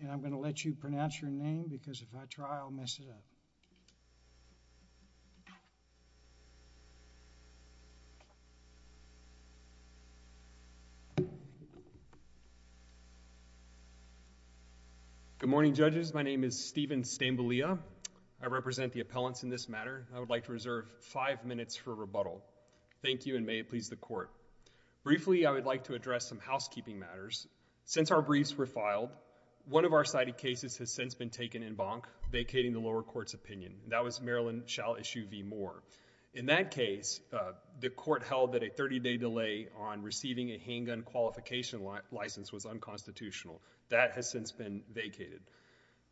and I'm going to let you pronounce your name because if I try I'll mess it up. Good morning judges. My name is Steven Stambalia. I represent the appellants in this matter. I would like to reserve five minutes for rebuttal. Thank you and may it please the court. Briefly I would like to address some housekeeping matters. Since our briefs were filed, one of our cited cases has since been taken in bonk, vacating the lower court's opinion. That was Maryland shall issue v. Moore. In that case, the court held that a 30-day delay on receiving a handgun qualification license was unconstitutional. That has since been vacated.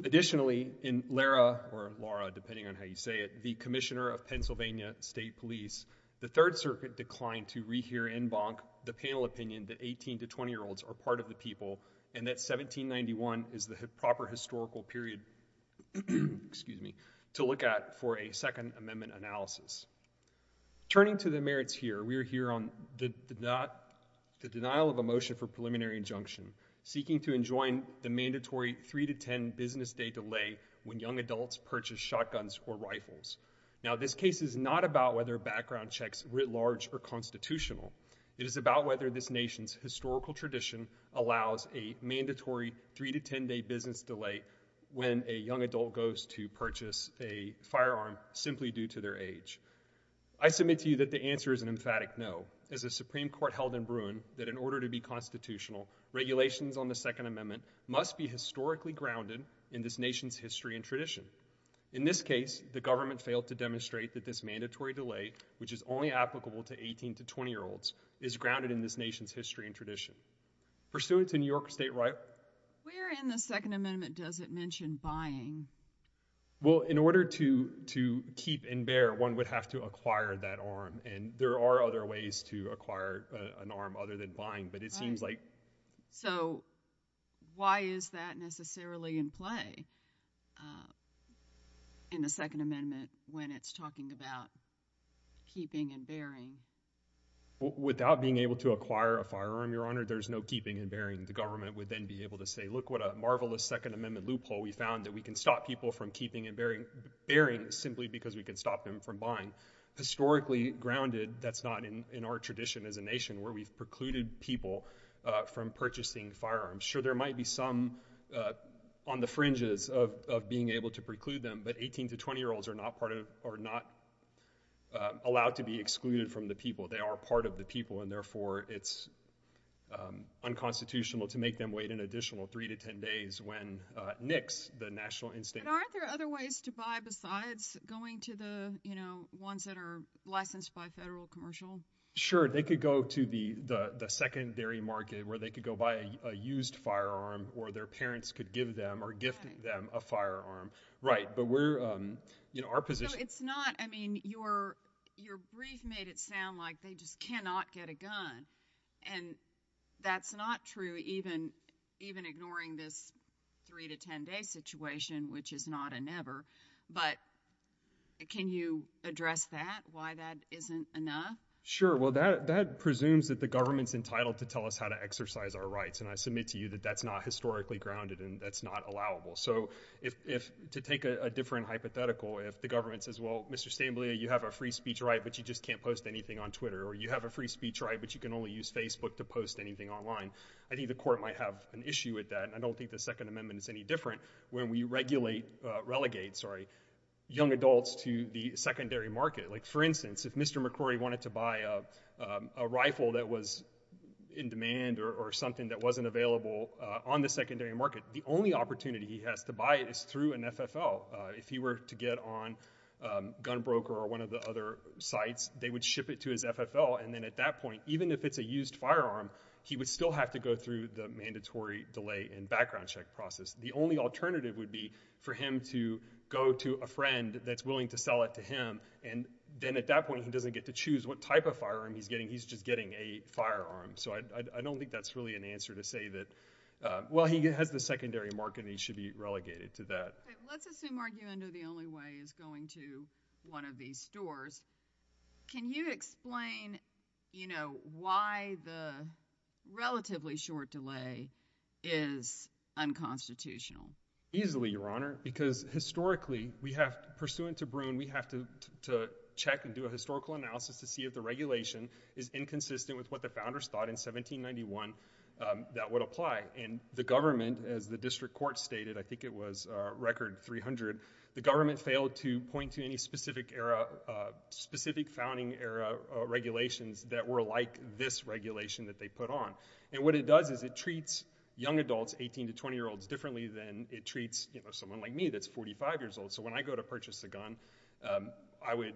Additionally, in Lara, or Lara depending on how you say it, the commissioner of Pennsylvania State Police, the Third Circuit declined to rehear in bonk the panel opinion that 18-20 year olds are part of the people and that 1791 is the proper historical period to look at for a second amendment analysis. Turning to the merits here, we are here on the denial of a motion for preliminary injunction seeking to enjoin the mandatory 3-10 business day delay when young adults purchase shotguns or rifles. Now, this case is not about whether background checks writ large are constitutional. It is about whether this nation's historical tradition allows a mandatory 3-10 day business delay when a young adult goes to purchase a firearm simply due to their age. I submit to you that the answer is an emphatic no. As a Supreme Court held in Bruin, that in order to be constitutional, regulations on the second amendment must be historically grounded in this nation's history and tradition. In this case, the government failed to demonstrate that this mandatory delay, which is only applicable to 18-20 year olds, is grounded in this nation's history and tradition. Pursuant to New York state right... Where in the second amendment does it mention buying? Well, in order to keep and bear, one would have to acquire that arm and there are other ways to acquire an arm other than buying, but it seems like... So why is that necessarily in play in the second amendment when it's talking about keeping and bearing? Without being able to acquire a firearm, your honor, there's no keeping and bearing. The government would then be able to say, look what a marvelous second amendment loophole we found that we can stop people from keeping and bearing simply because we can stop them from buying. Historically grounded, that's not in our tradition as a nation where we've precluded people from purchasing firearms. Sure, there might be some on the fringes of being able to preclude them, but 18-20 year olds are not allowed to be excluded from the people. They are part of the people and therefore it's unconstitutional to make them wait an additional three to 10 days when NICS, the National Institution... But aren't there other ways to buy besides going to the ones that are licensed by federal commercial? Sure, they could go to the secondary market where they could go buy a used firearm or their parents could give them or gift them a firearm. Right, but we're... Our position... So it's not... I mean, your brief made it sound like they just cannot get a gun and that's not true even ignoring this three to 10 day situation, which is not a never, but can you address that? Why that isn't enough? Sure, well, that presumes that the government's entitled to tell us how to exercise our rights and I submit to you that that's not historically grounded and that's not allowable. So to take a different hypothetical, if the government says, well, Mr. Stamblia, you have a free speech right, but you just can't post anything on Twitter or you have a free speech right, but you can only use Facebook to post anything online, I think the court might have an issue with that and I don't think the Second Amendment is any different when we regulate, relegate, sorry, young adults to the secondary market. Like, for instance, if Mr. McCrory wanted to buy a rifle that was in demand or something that wasn't available on the secondary market, the only opportunity he has to buy it is through an FFL. If he were to get on Gun Broker or one of the other sites, they would ship it to his FFL and then at that point, even if it's a used firearm, he would still have to go through the mandatory delay and background check process. The only alternative would be for him to go to a friend that's willing to sell it to him and then at that point, he doesn't get to choose what type of firearm he's getting, he's just getting a firearm. So I don't think that's really an answer to say that, well, he has the secondary market and he should be relegated to that. Okay, let's assume argument are the only way is going to one of these stores. Can you explain, you know, why the relatively short delay is unconstitutional? Easily, Your Honor, because historically, we have, pursuant to Bruin, we have to check and do a historical analysis to see if the regulation is inconsistent with what the founders thought in 1791 that would apply. And the government, as the district court stated, I think it was record 300, the government failed to point to any specific era, specific founding era regulations that were like this regulation that they put on. And what it does is it treats young adults, 18 to 20 year olds, differently than it treats, you know, someone like me that's 45 years old. So when I go to purchase a gun, I would,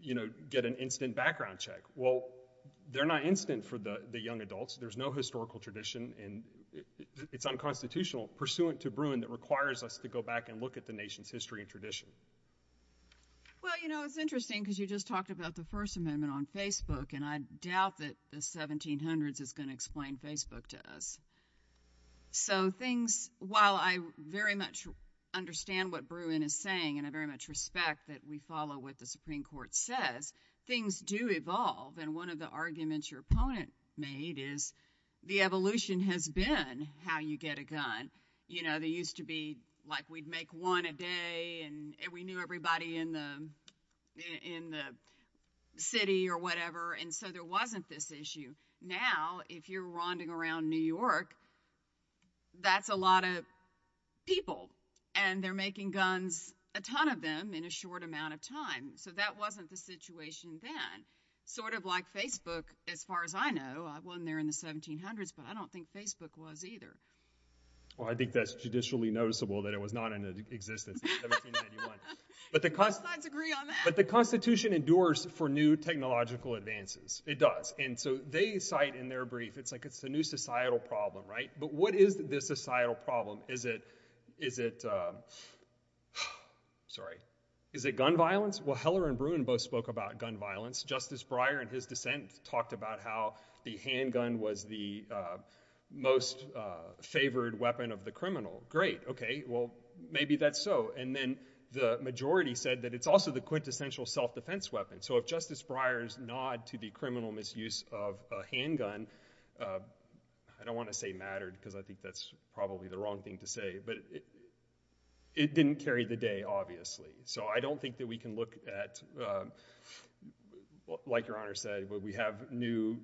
you know, get an instant background check. Well, they're not instant for the young adults, there's no historical tradition and it's unconstitutional pursuant to Bruin that requires us to go back and look at the nation's history and tradition. Well, you know, it's interesting because you just talked about the First Amendment on Facebook and I doubt that the 1700s is going to explain Facebook to us. So things, while I very much understand what Bruin is saying and I very much respect that we follow what the Supreme Court says, things do evolve and one of the arguments your opponent made is the evolution has been how you get a gun. You know, they used to be like we'd make one a day and we knew everybody in the city or And so there wasn't this issue. Now, if you're ronding around New York, that's a lot of people and they're making guns, a ton of them, in a short amount of time. So that wasn't the situation then. Sort of like Facebook, as far as I know, I wasn't there in the 1700s, but I don't think Facebook was either. Well, I think that's judicially noticeable that it was not in existence in 1791. But the Constitution endures for new technological advances. It does. And so they cite in their brief, it's like it's a new societal problem, right? But what is this societal problem? Is it gun violence? Well, Heller and Bruin both spoke about gun violence. Justice Breyer in his dissent talked about how the handgun was the most favored weapon of the criminal. Great. Okay. Well, maybe that's so. And then the majority said that it's also the quintessential self-defense weapon. So if Justice Breyer's nod to the criminal misuse of a handgun, I don't want to say mattered because I think that's probably the wrong thing to say, but it didn't carry the day, obviously. So I don't think that we can look at, like Your Honor said, we have new,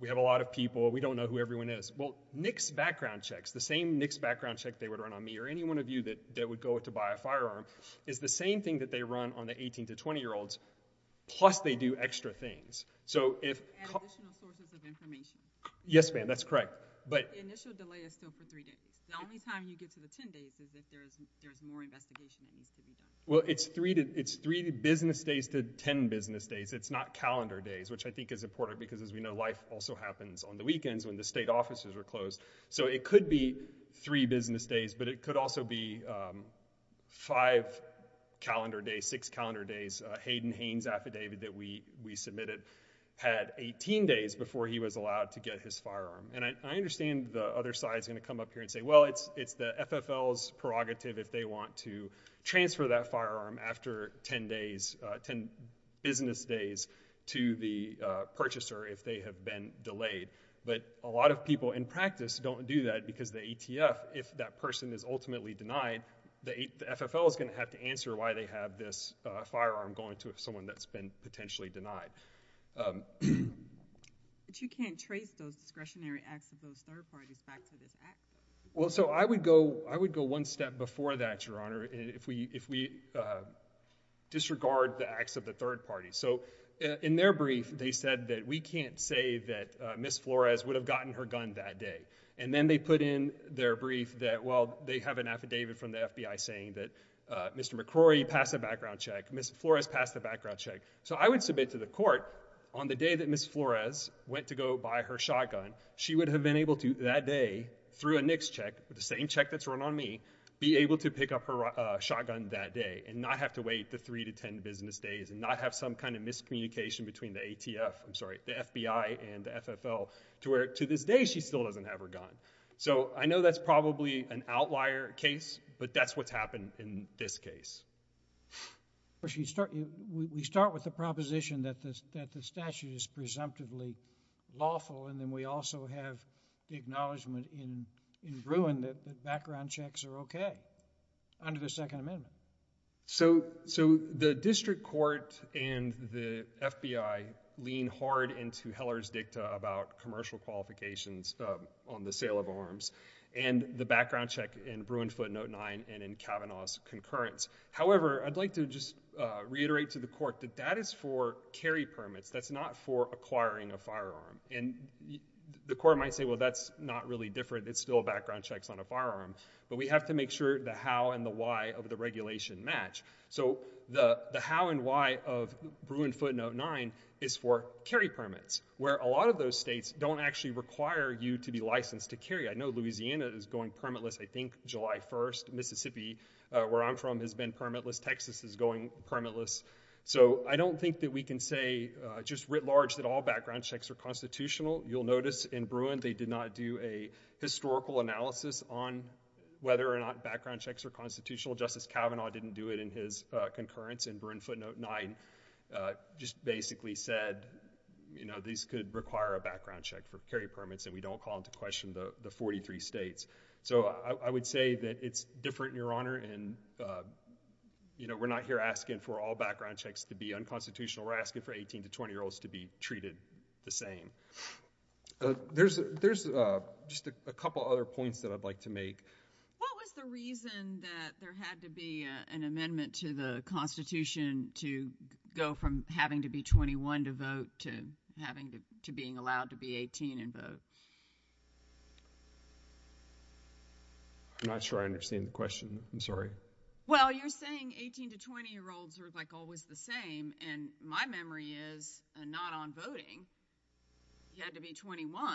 we have a lot of people, we don't know who everyone is. Well, NICS background checks, the same NICS background check they would run on me or any firearm is the same thing that they run on the 18 to 20 year olds, plus they do extra things. So if- Add additional sources of information. Yes, ma'am. That's correct. But the initial delay is still for three days. The only time you get to the 10 days is if there's more investigation that needs to be done. Well, it's three business days to 10 business days. It's not calendar days, which I think is important because as we know, life also happens on the weekends when the state offices are closed. So it could be three business days, but it could also be five calendar days, six calendar days. Hayden Haines' affidavit that we submitted had 18 days before he was allowed to get his firearm. And I understand the other side is going to come up here and say, well, it's the FFL's prerogative if they want to transfer that firearm after 10 days, 10 business days to the purchaser if they have been delayed. But a lot of people in practice don't do that because the ATF, if that person is ultimately denied, the FFL is going to have to answer why they have this firearm going to someone that's been potentially denied. But you can't trace those discretionary acts of those third parties back to this act. Well, so I would go one step before that, Your Honor, if we disregard the acts of the third party. So in their brief, they said that we can't say that Ms. Flores would have gotten her gun that day. And then they put in their brief that, well, they have an affidavit from the FBI saying that Mr. McCrory passed a background check, Ms. Flores passed a background check. So I would submit to the court on the day that Ms. Flores went to go buy her shotgun, she would have been able to, that day, through a NICS check, the same check that's run on me, be able to pick up her shotgun that day and not have to wait the three to 10 business days and not have some kind of miscommunication between the ATF, I'm sorry, the FBI and the FFL to where, to this day, she still doesn't have her gun. So I know that's probably an outlier case, but that's what's happened in this case. We start with the proposition that the statute is presumptively lawful, and then we also have the acknowledgment in Bruin that background checks are okay under the Second Amendment. So the district court and the FBI lean hard into Heller's dicta about commercial qualifications on the sale of arms and the background check in Bruin footnote 9 and in Kavanaugh's concurrence. However, I'd like to just reiterate to the court that that is for carry permits. That's not for acquiring a firearm, and the court might say, well, that's not really different. It's still background checks on a firearm, but we have to make sure the how and the why of the regulation match. So the how and why of Bruin footnote 9 is for carry permits, where a lot of those states don't actually require you to be licensed to carry. I know Louisiana is going permitless, I think, July 1st, Mississippi, where I'm from, has been permitless. Texas is going permitless. So I don't think that we can say just writ large that all background checks are constitutional. You'll notice in Bruin they did not do a historical analysis on whether or not background checks are constitutional. Justice Kavanaugh didn't do it in his concurrence, and Bruin footnote 9 just basically said these could require a background check for carry permits, and we don't call into question the 43 states. So I would say that it's different, Your Honor, and we're not here asking for all background checks to be unconstitutional. We're asking for 18 to 20-year-olds to be treated the same. There's just a couple other points that I'd like to make. What was the reason that there had to be an amendment to the Constitution to go from having to be 21 to vote to having to being allowed to be 18 and vote? I'm not sure I understand the question. I'm sorry. Well, you're saying 18 to 20-year-olds are, like, always the same, and my memory is, not on voting, you had to be 21,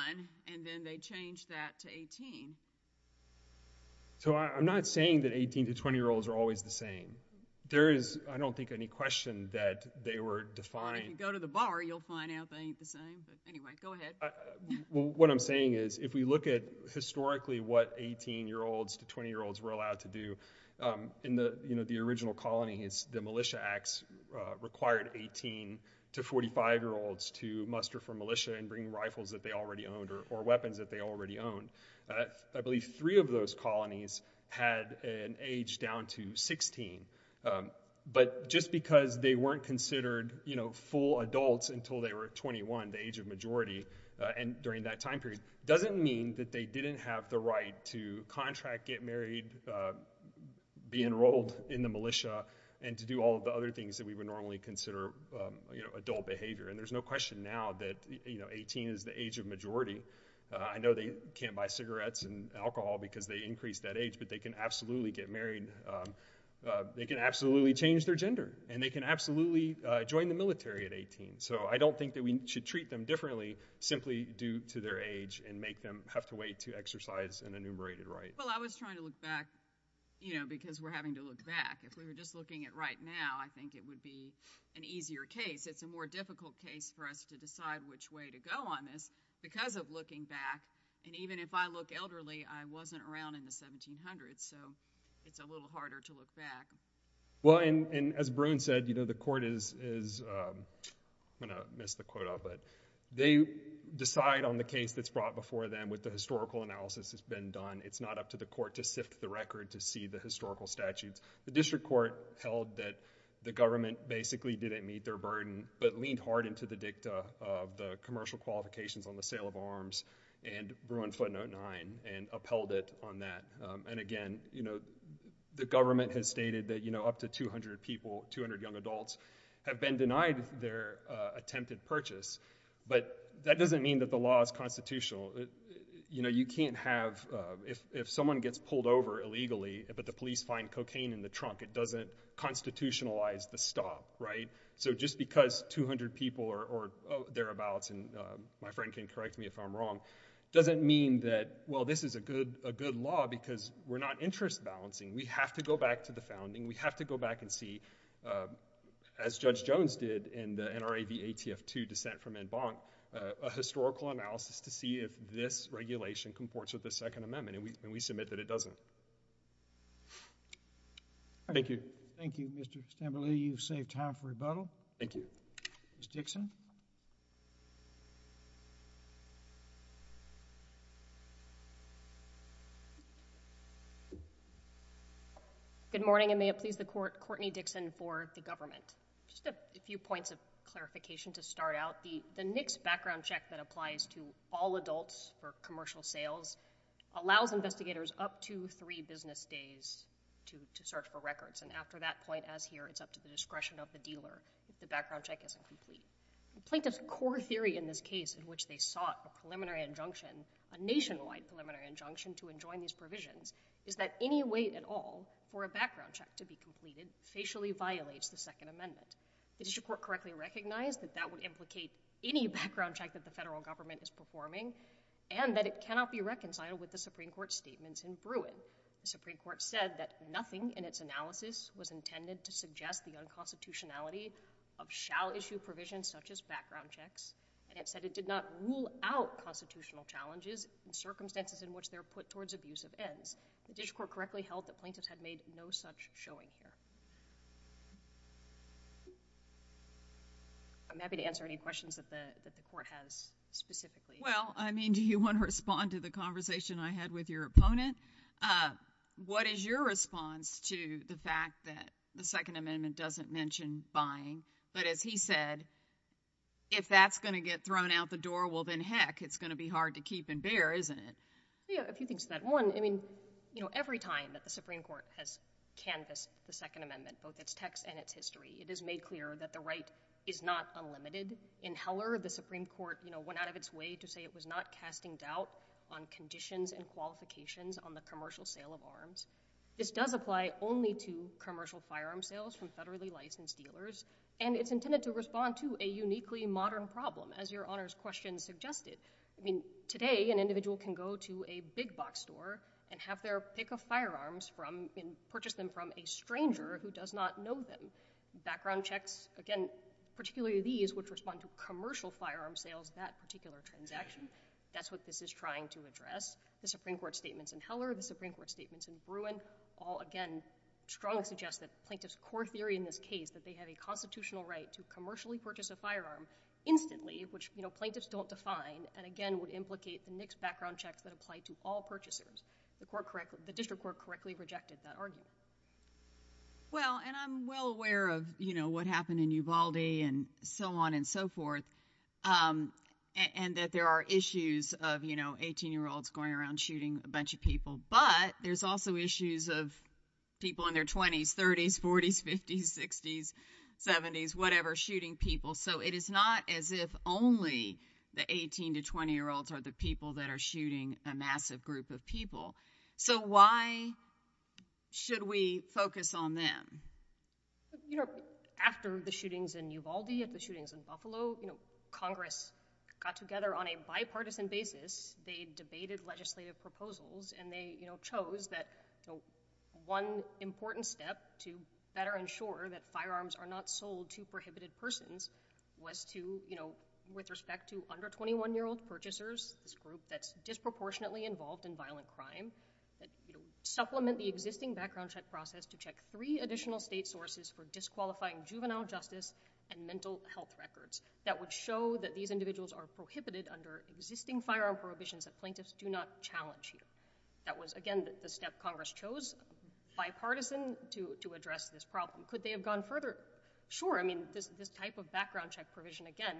and then they changed that to 18. So I'm not saying that 18 to 20-year-olds are always the same. There is, I don't think, any question that they were defined. If you go to the bar, you'll find out they ain't the same, but anyway, go ahead. What I'm saying is, if we look at historically what 18-year-olds to 20-year-olds were allowed to do, in the original colonies, the Militia Acts required 18 to 45-year-olds to muster for militia and bring rifles that they already owned or weapons that they already owned. I believe three of those colonies had an age down to 16, but just because they weren't considered full adults until they were 21, the age of majority, and during that time period, doesn't mean that they didn't have the right to contract, get married, be enrolled in the militia, and to do all of the other things that we would normally consider adult behavior, and there's no question now that, you know, 18 is the age of majority. I know they can't buy cigarettes and alcohol because they increase that age, but they can absolutely get married. They can absolutely change their gender, and they can absolutely join the military at 18. So I don't think that we should treat them differently simply due to their age and make them have to wait to exercise an enumerated right. Well, I was trying to look back, you know, because we're having to look back. If we were just looking at right now, I think it would be an easier case. It's a more difficult case for us to decide which way to go on this because of looking back, and even if I look elderly, I wasn't around in the 1700s, so it's a little harder to look back. Well, and as Bruin said, you know, the court is, I'm going to miss the quote off, but they decide on the case that's brought before them with the historical analysis that's been done. It's not up to the court to sift the record to see the historical statutes. The district court held that the government basically didn't meet their burden, but leaned hard into the dicta of the commercial qualifications on the sale of arms and Bruin footnote 9 and upheld it on that. And again, you know, the government has stated that, you know, up to 200 people, 200 young adults have been denied their attempted purchase, but that doesn't mean that the law is constitutional. You know, you can't have, if someone gets pulled over illegally, but the police find cocaine in the trunk, it doesn't constitutionalize the stop, right? So just because 200 people or thereabouts, and my friend can correct me if I'm wrong, doesn't mean that, well, this is a good law because we're not interest balancing. We have to go back to the founding. We have to go back and see, as Judge Jones did in the NRA v. ATF 2 dissent from en banc, a historical analysis to see if this regulation comports with the Second Amendment, and we submit that it doesn't. Thank you. Thank you, Mr. Stambelli. You've saved time for rebuttal. Thank you. Ms. Dixon? Good morning, and may it please the court, Courtney Dixon for the government. Just a few points of clarification to start out. The NICS background check that applies to all adults for commercial sales allows investigators up to three business days to search for records, and after that point, as here, it's up to the discretion of the dealer if the background check isn't complete. Plaintiff's core theory in this case, in which they sought a preliminary injunction, a nationwide preliminary injunction to enjoin these provisions, is that any wait at all for a background check to be completed facially violates the Second Amendment. The district court correctly recognized that that would implicate any background check that the federal government is performing, and that it cannot be reconciled with the Supreme Court's statements in Bruin. The Supreme Court said that nothing in its analysis was intended to suggest the unconstitutionality of shall issue provisions such as background checks, and it said it did not rule out constitutional challenges in circumstances in which they're put towards abusive ends. The district court correctly held that plaintiffs had made no such showing here. I'm happy to answer any questions that the court has specifically. Well, I mean, do you want to respond to the conversation I had with your opponent? What is your response to the fact that the Second Amendment doesn't mention buying, but as he said, if that's going to get thrown out the door, well, then heck, it's going to be hard to keep and bear, isn't it? Yeah, a few things to that. One, I mean, you know, every time that the Supreme Court has canvassed the Second Amendment, both its text and its history, it is made clear that the right is not unlimited. In Heller, the Supreme Court, you know, went out of its way to say it was not casting doubt on conditions and qualifications on the commercial sale of arms. This does apply only to commercial firearm sales from federally licensed dealers, and it's intended to respond to a uniquely modern problem, as your Honor's question suggested. I mean, today, an individual can go to a big box store and have their pick of firearms from, and purchase them from a stranger who does not know them. Background checks, again, particularly these, which respond to commercial firearm sales, that particular transaction, that's what this is trying to address. The Supreme Court statements in Heller, the Supreme Court statements in Bruin, all, again, strongly suggest that plaintiff's core theory in this case, that they have a constitutional right to commercially purchase a firearm instantly, which, you know, plaintiffs don't define, and again, would implicate the mixed background checks that apply to all purchasers. The court correct, the district court correctly rejected that argument. Well, and I'm well aware of, you know, what happened in Ubaldi, and so on and so forth. And that there are issues of, you know, 18 year olds going around shooting a bunch of people, but there's also issues of people in their 20s, 30s, 40s, 50s, 60s, 70s, whatever, shooting people. So, it is not as if only the 18 to 20 year olds are the people that are shooting a massive group of people. So, why should we focus on them? You know, after the shootings in Ubaldi, at the shootings in Buffalo, you know, Congress got together on a bipartisan basis. They debated legislative proposals, and they, you know, chose that one important step to better ensure that firearms are not sold to prohibited persons was to, you know, with respect to under 21 year old purchasers, this group that's disproportionately involved in violent crime, supplement the existing background check process to check three additional state sources for disqualifying juvenile justice and mental health records. That would show that these individuals are prohibited under existing firearm prohibitions that plaintiffs do not challenge here. That was, again, the step Congress chose, bipartisan, to address this problem. Could they have gone further? Sure. I mean, this type of background check provision, again,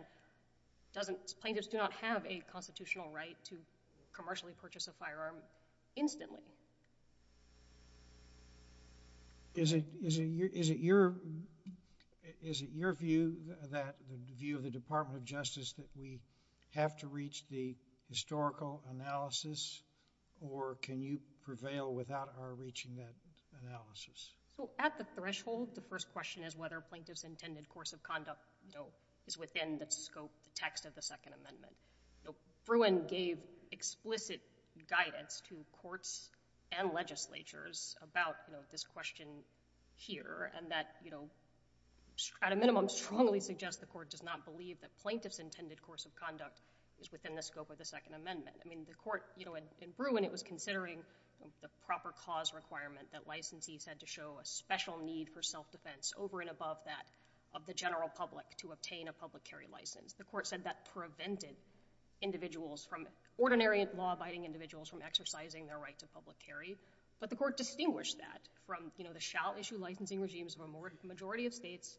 doesn't—plaintiffs do not have a constitutional right to commercially purchase a firearm instantly. Is it—is it your—is it your view that—the view of the Department of Justice that we have to reach the historical analysis, or can you prevail without our reaching that analysis? So, at the threshold, the first question is whether plaintiff's intended course of conduct, you know, is within the scope, the text of the Second Amendment. You know, Bruin gave explicit guidance to courts and legislatures about, you know, this question here, and that, you know, at a minimum, strongly suggests the court does not believe that plaintiff's intended course of conduct is within the scope of the Second Amendment. I mean, the court, you know, in Bruin, it was considering the proper cause requirement that licensees had to show a special need for self-defense over and above that of the general public to obtain a public carry license. The court said that prevented individuals from—ordinary law-abiding individuals from exercising their right to public carry, but the court distinguished that from, you know, the shall issue licensing regimes of a majority of states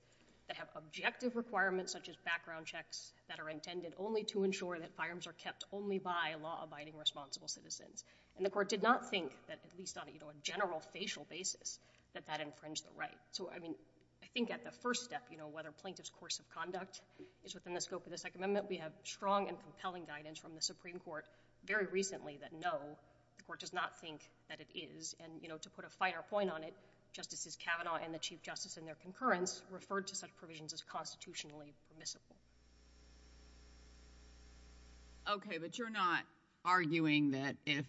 that have objective requirements such as background checks that are intended only to ensure that firearms are kept only by law-abiding responsible citizens. And the court did not think that, at least on a general facial basis, that that infringed the right. So, I mean, I think at the first step, you know, whether plaintiff's course of conduct is within the scope of the Second Amendment, we have strong and compelling guidance from the Supreme Court very recently that no, the court does not think that it is, and, you know, to put a finer point on it, Justices Kavanaugh and the Chief Justice in their concurrence referred to such provisions as constitutionally permissible. Okay, but you're not arguing that if,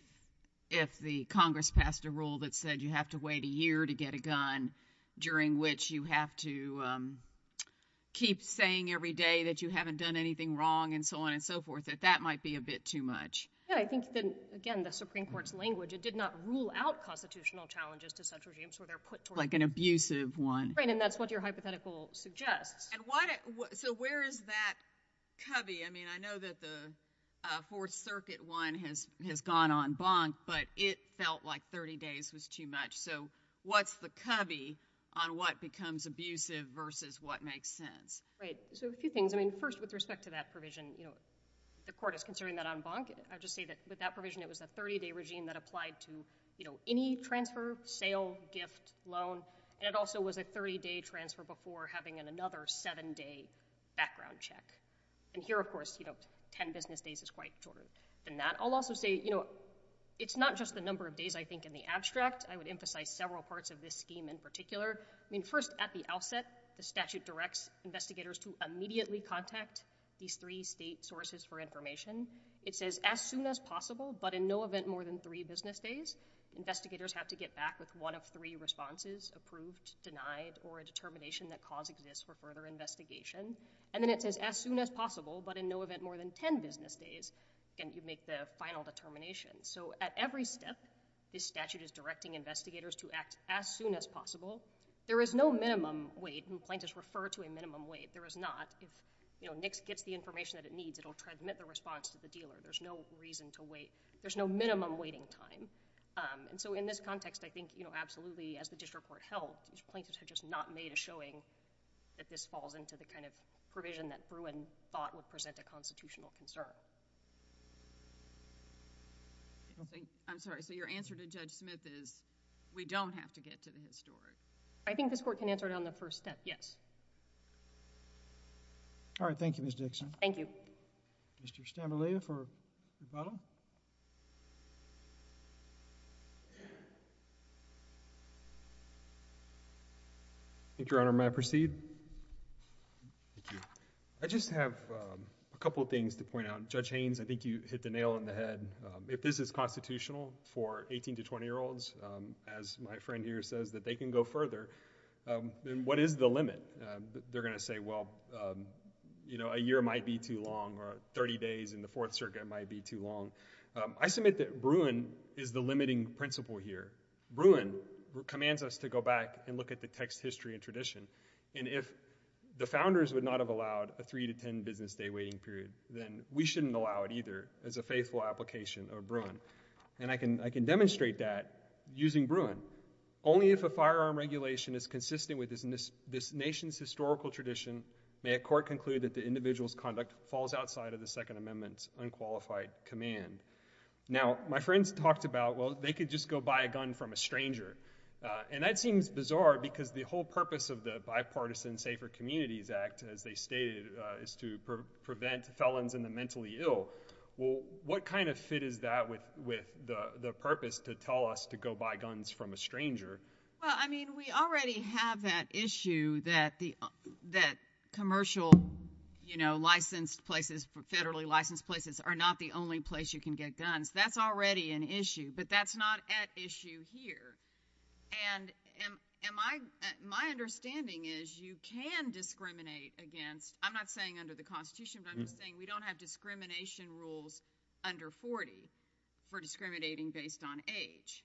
if the Congress passed a rule that said you have to wait a year to get a gun during which you have to keep saying every day that you haven't done anything wrong and so on and so forth, that that might be a bit too much. Yeah, I think that, again, the Supreme Court's language, it did not rule out constitutional challenges to such regimes where they're put towards— Like an abusive one. Right, and that's what your hypothetical suggests. And what, so where is that cubby? I mean, I know that the Fourth Circuit one has, has gone en banc, but it felt like 30 days was too much. So what's the cubby on what becomes abusive versus what makes sense? Right. So a few things. I mean, first, with respect to that provision, you know, the court is considering that en banc. I just say that with that provision, it was a 30-day regime that applied to, you know, any transfer, sale, gift, loan, and it also was a 30-day transfer before having an another seven-day background check. And here, of course, you know, 10 business days is quite shorter than that. I'll also say, you know, it's not just the number of days I think in the abstract. I would emphasize several parts of this scheme in particular. I mean, first, at the outset, the statute directs investigators to immediately contact these three state sources for information. It says, as soon as possible, but in no event more than three business days. Investigators have to get back with one of three responses, approved, denied, or a determination that cause exists for further investigation, and then it says, as soon as possible, but in no event more than 10 business days, and you make the final determination. So at every step, this statute is directing investigators to act as soon as possible. There is no minimum wait, and plaintiffs refer to a minimum wait. There is not. If, you know, NICS gets the information that it needs, it will transmit the response to the dealer. There's no reason to wait. There's no minimum waiting time. And so in this context, I think, you know, absolutely, as the district court held, plaintiffs have just not made a showing that this falls into the kind of provision that Bruin thought would present a constitutional concern. I don't think, I'm sorry, so your answer to Judge Smith is we don't have to get to the historic. I think this Court can answer it on the first step, yes. All right. Thank you, Ms. Dixon. Thank you. Mr. Stamboulida for rebuttal. I think, Your Honor, may I proceed? Thank you. I just have a couple of things to point out. Judge Haynes, I think you hit the nail on the head. If this is constitutional for 18- to 20-year-olds, as my friend here says, that they can go further, then what is the limit? They're going to say, well, you know, a year might be too long, or 30 days in the Fourth Circuit might be too long. I submit that Bruin is the limiting principle here. Bruin commands us to go back and look at the text, history, and tradition, and if the founders would not have allowed a 3- to 10-business day waiting period, then we shouldn't allow it either as a faithful application of Bruin. And I can demonstrate that using Bruin. Only if a firearm regulation is consistent with this nation's historical tradition may a court conclude that the individual's conduct falls outside of the Second Amendment's unqualified command. Now, my friends talked about, well, they could just go buy a gun from a stranger. And that seems bizarre, because the whole purpose of the Bipartisan Safer Communities Act, as they stated, is to prevent felons in the mentally ill. Well, what kind of fit is that with the purpose to tell us to go buy guns from a stranger? Well, I mean, we already have that issue that commercial, you know, licensed places, federally licensed places are not the only place you can get guns. That's already an issue, but that's not at issue here. And my understanding is you can discriminate against, I'm not saying under the Constitution, but I'm just saying we don't have discrimination rules under 40 for discriminating based on age.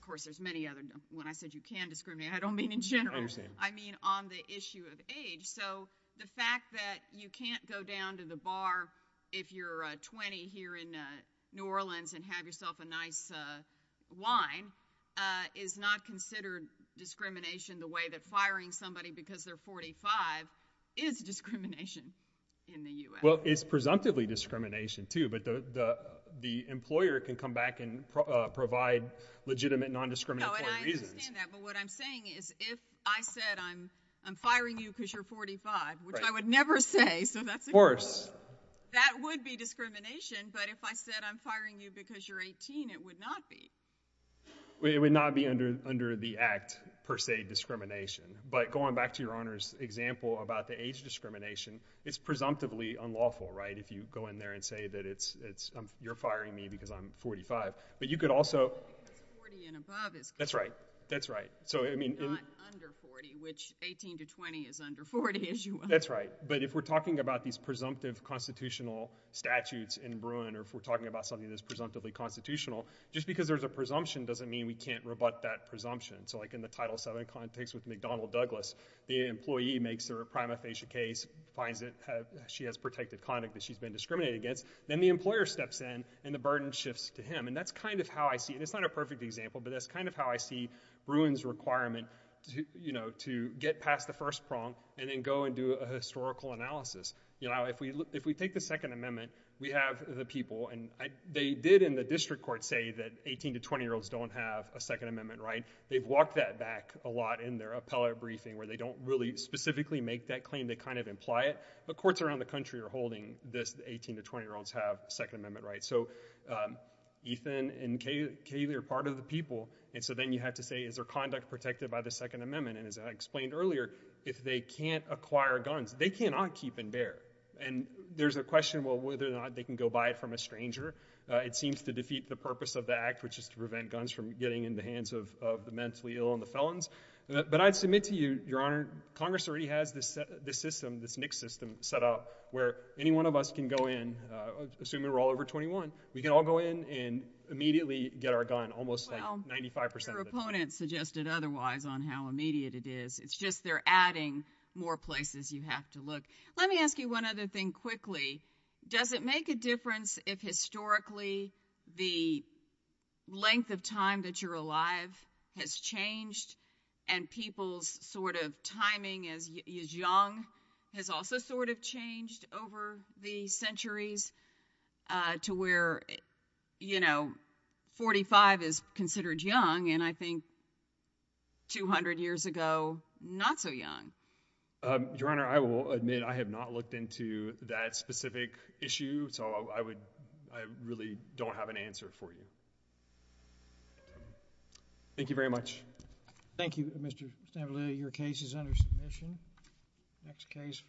Of course, there's many other, when I said you can discriminate, I don't mean in general. I mean on the issue of age. So the fact that you can't go down to the bar if you're 20 here in New Orleans and have yourself a nice wine is not considered discrimination the way that firing somebody because they're 45 is discrimination in the U.S. Well, it's presumptively discrimination, too, but the employer can come back and provide legitimate non-discriminatory reasons. No, and I understand that, but what I'm saying is if I said I'm firing you because you're 45, which I would never say, so that's of course, that would be discrimination, but if I said I'm firing you because you're 18, it would not be. It would not be under the act, per se, discrimination. But going back to your Honor's example about the age discrimination, it's presumptively unlawful, right, if you go in there and say that you're firing me because I'm 45, but you could also... Because 40 and above is... That's right. That's right. So I mean... Not under 40, which 18 to 20 is under 40, as you... That's right. But if we're talking about these presumptive constitutional statutes in Bruin or if we're talking about something that's presumptively constitutional, just because there's a presumption doesn't mean we can't rebut that presumption. So like in the Title VII context with McDonnell Douglas, the employee makes their prima facie case, finds that she has protected conduct that she's been discriminated against, then the employer steps in and the burden shifts to him. And that's kind of how I see... And it's not a perfect example, but that's kind of how I see Bruin's requirement to get past the first prong and then go and do a historical analysis. If we take the Second Amendment, we have the people, and they did in the district court say that 18 to 20-year-olds don't have a Second Amendment, right? They've walked that back a lot in their appellate briefing where they don't really specifically make that claim. They kind of imply it. But courts around the country are holding this 18 to 20-year-olds have Second Amendment rights. So Ethan and Kaylee are part of the people, and so then you have to say, is their conduct protected by the Second Amendment? And as I explained earlier, if they can't acquire guns, they cannot keep and bear. And there's a question, well, whether or not they can go buy it from a stranger. It seems to defeat the purpose of the act, which is to prevent guns from getting in the hands of mentally ill and the felons. But I'd submit to you, Your Honor, Congress already has this system, this NICS system set up where any one of us can go in, assuming we're all over 21, we can all go in and immediately get our gun, almost like 95% of the time. Well, your opponent suggested otherwise on how immediate it is. It's just they're adding more places you have to look. Let me ask you one other thing quickly. Does it make a difference if historically the length of time that you're alive has changed and people's sort of timing as young has also sort of changed over the centuries to where, you know, 45 is considered young, and I think 200 years ago, not so young? Your Honor, I will admit I have not looked into that specific issue. So I would, I really don't have an answer for you. Thank you very much. Thank you, Mr. Stavridis. Next case, please.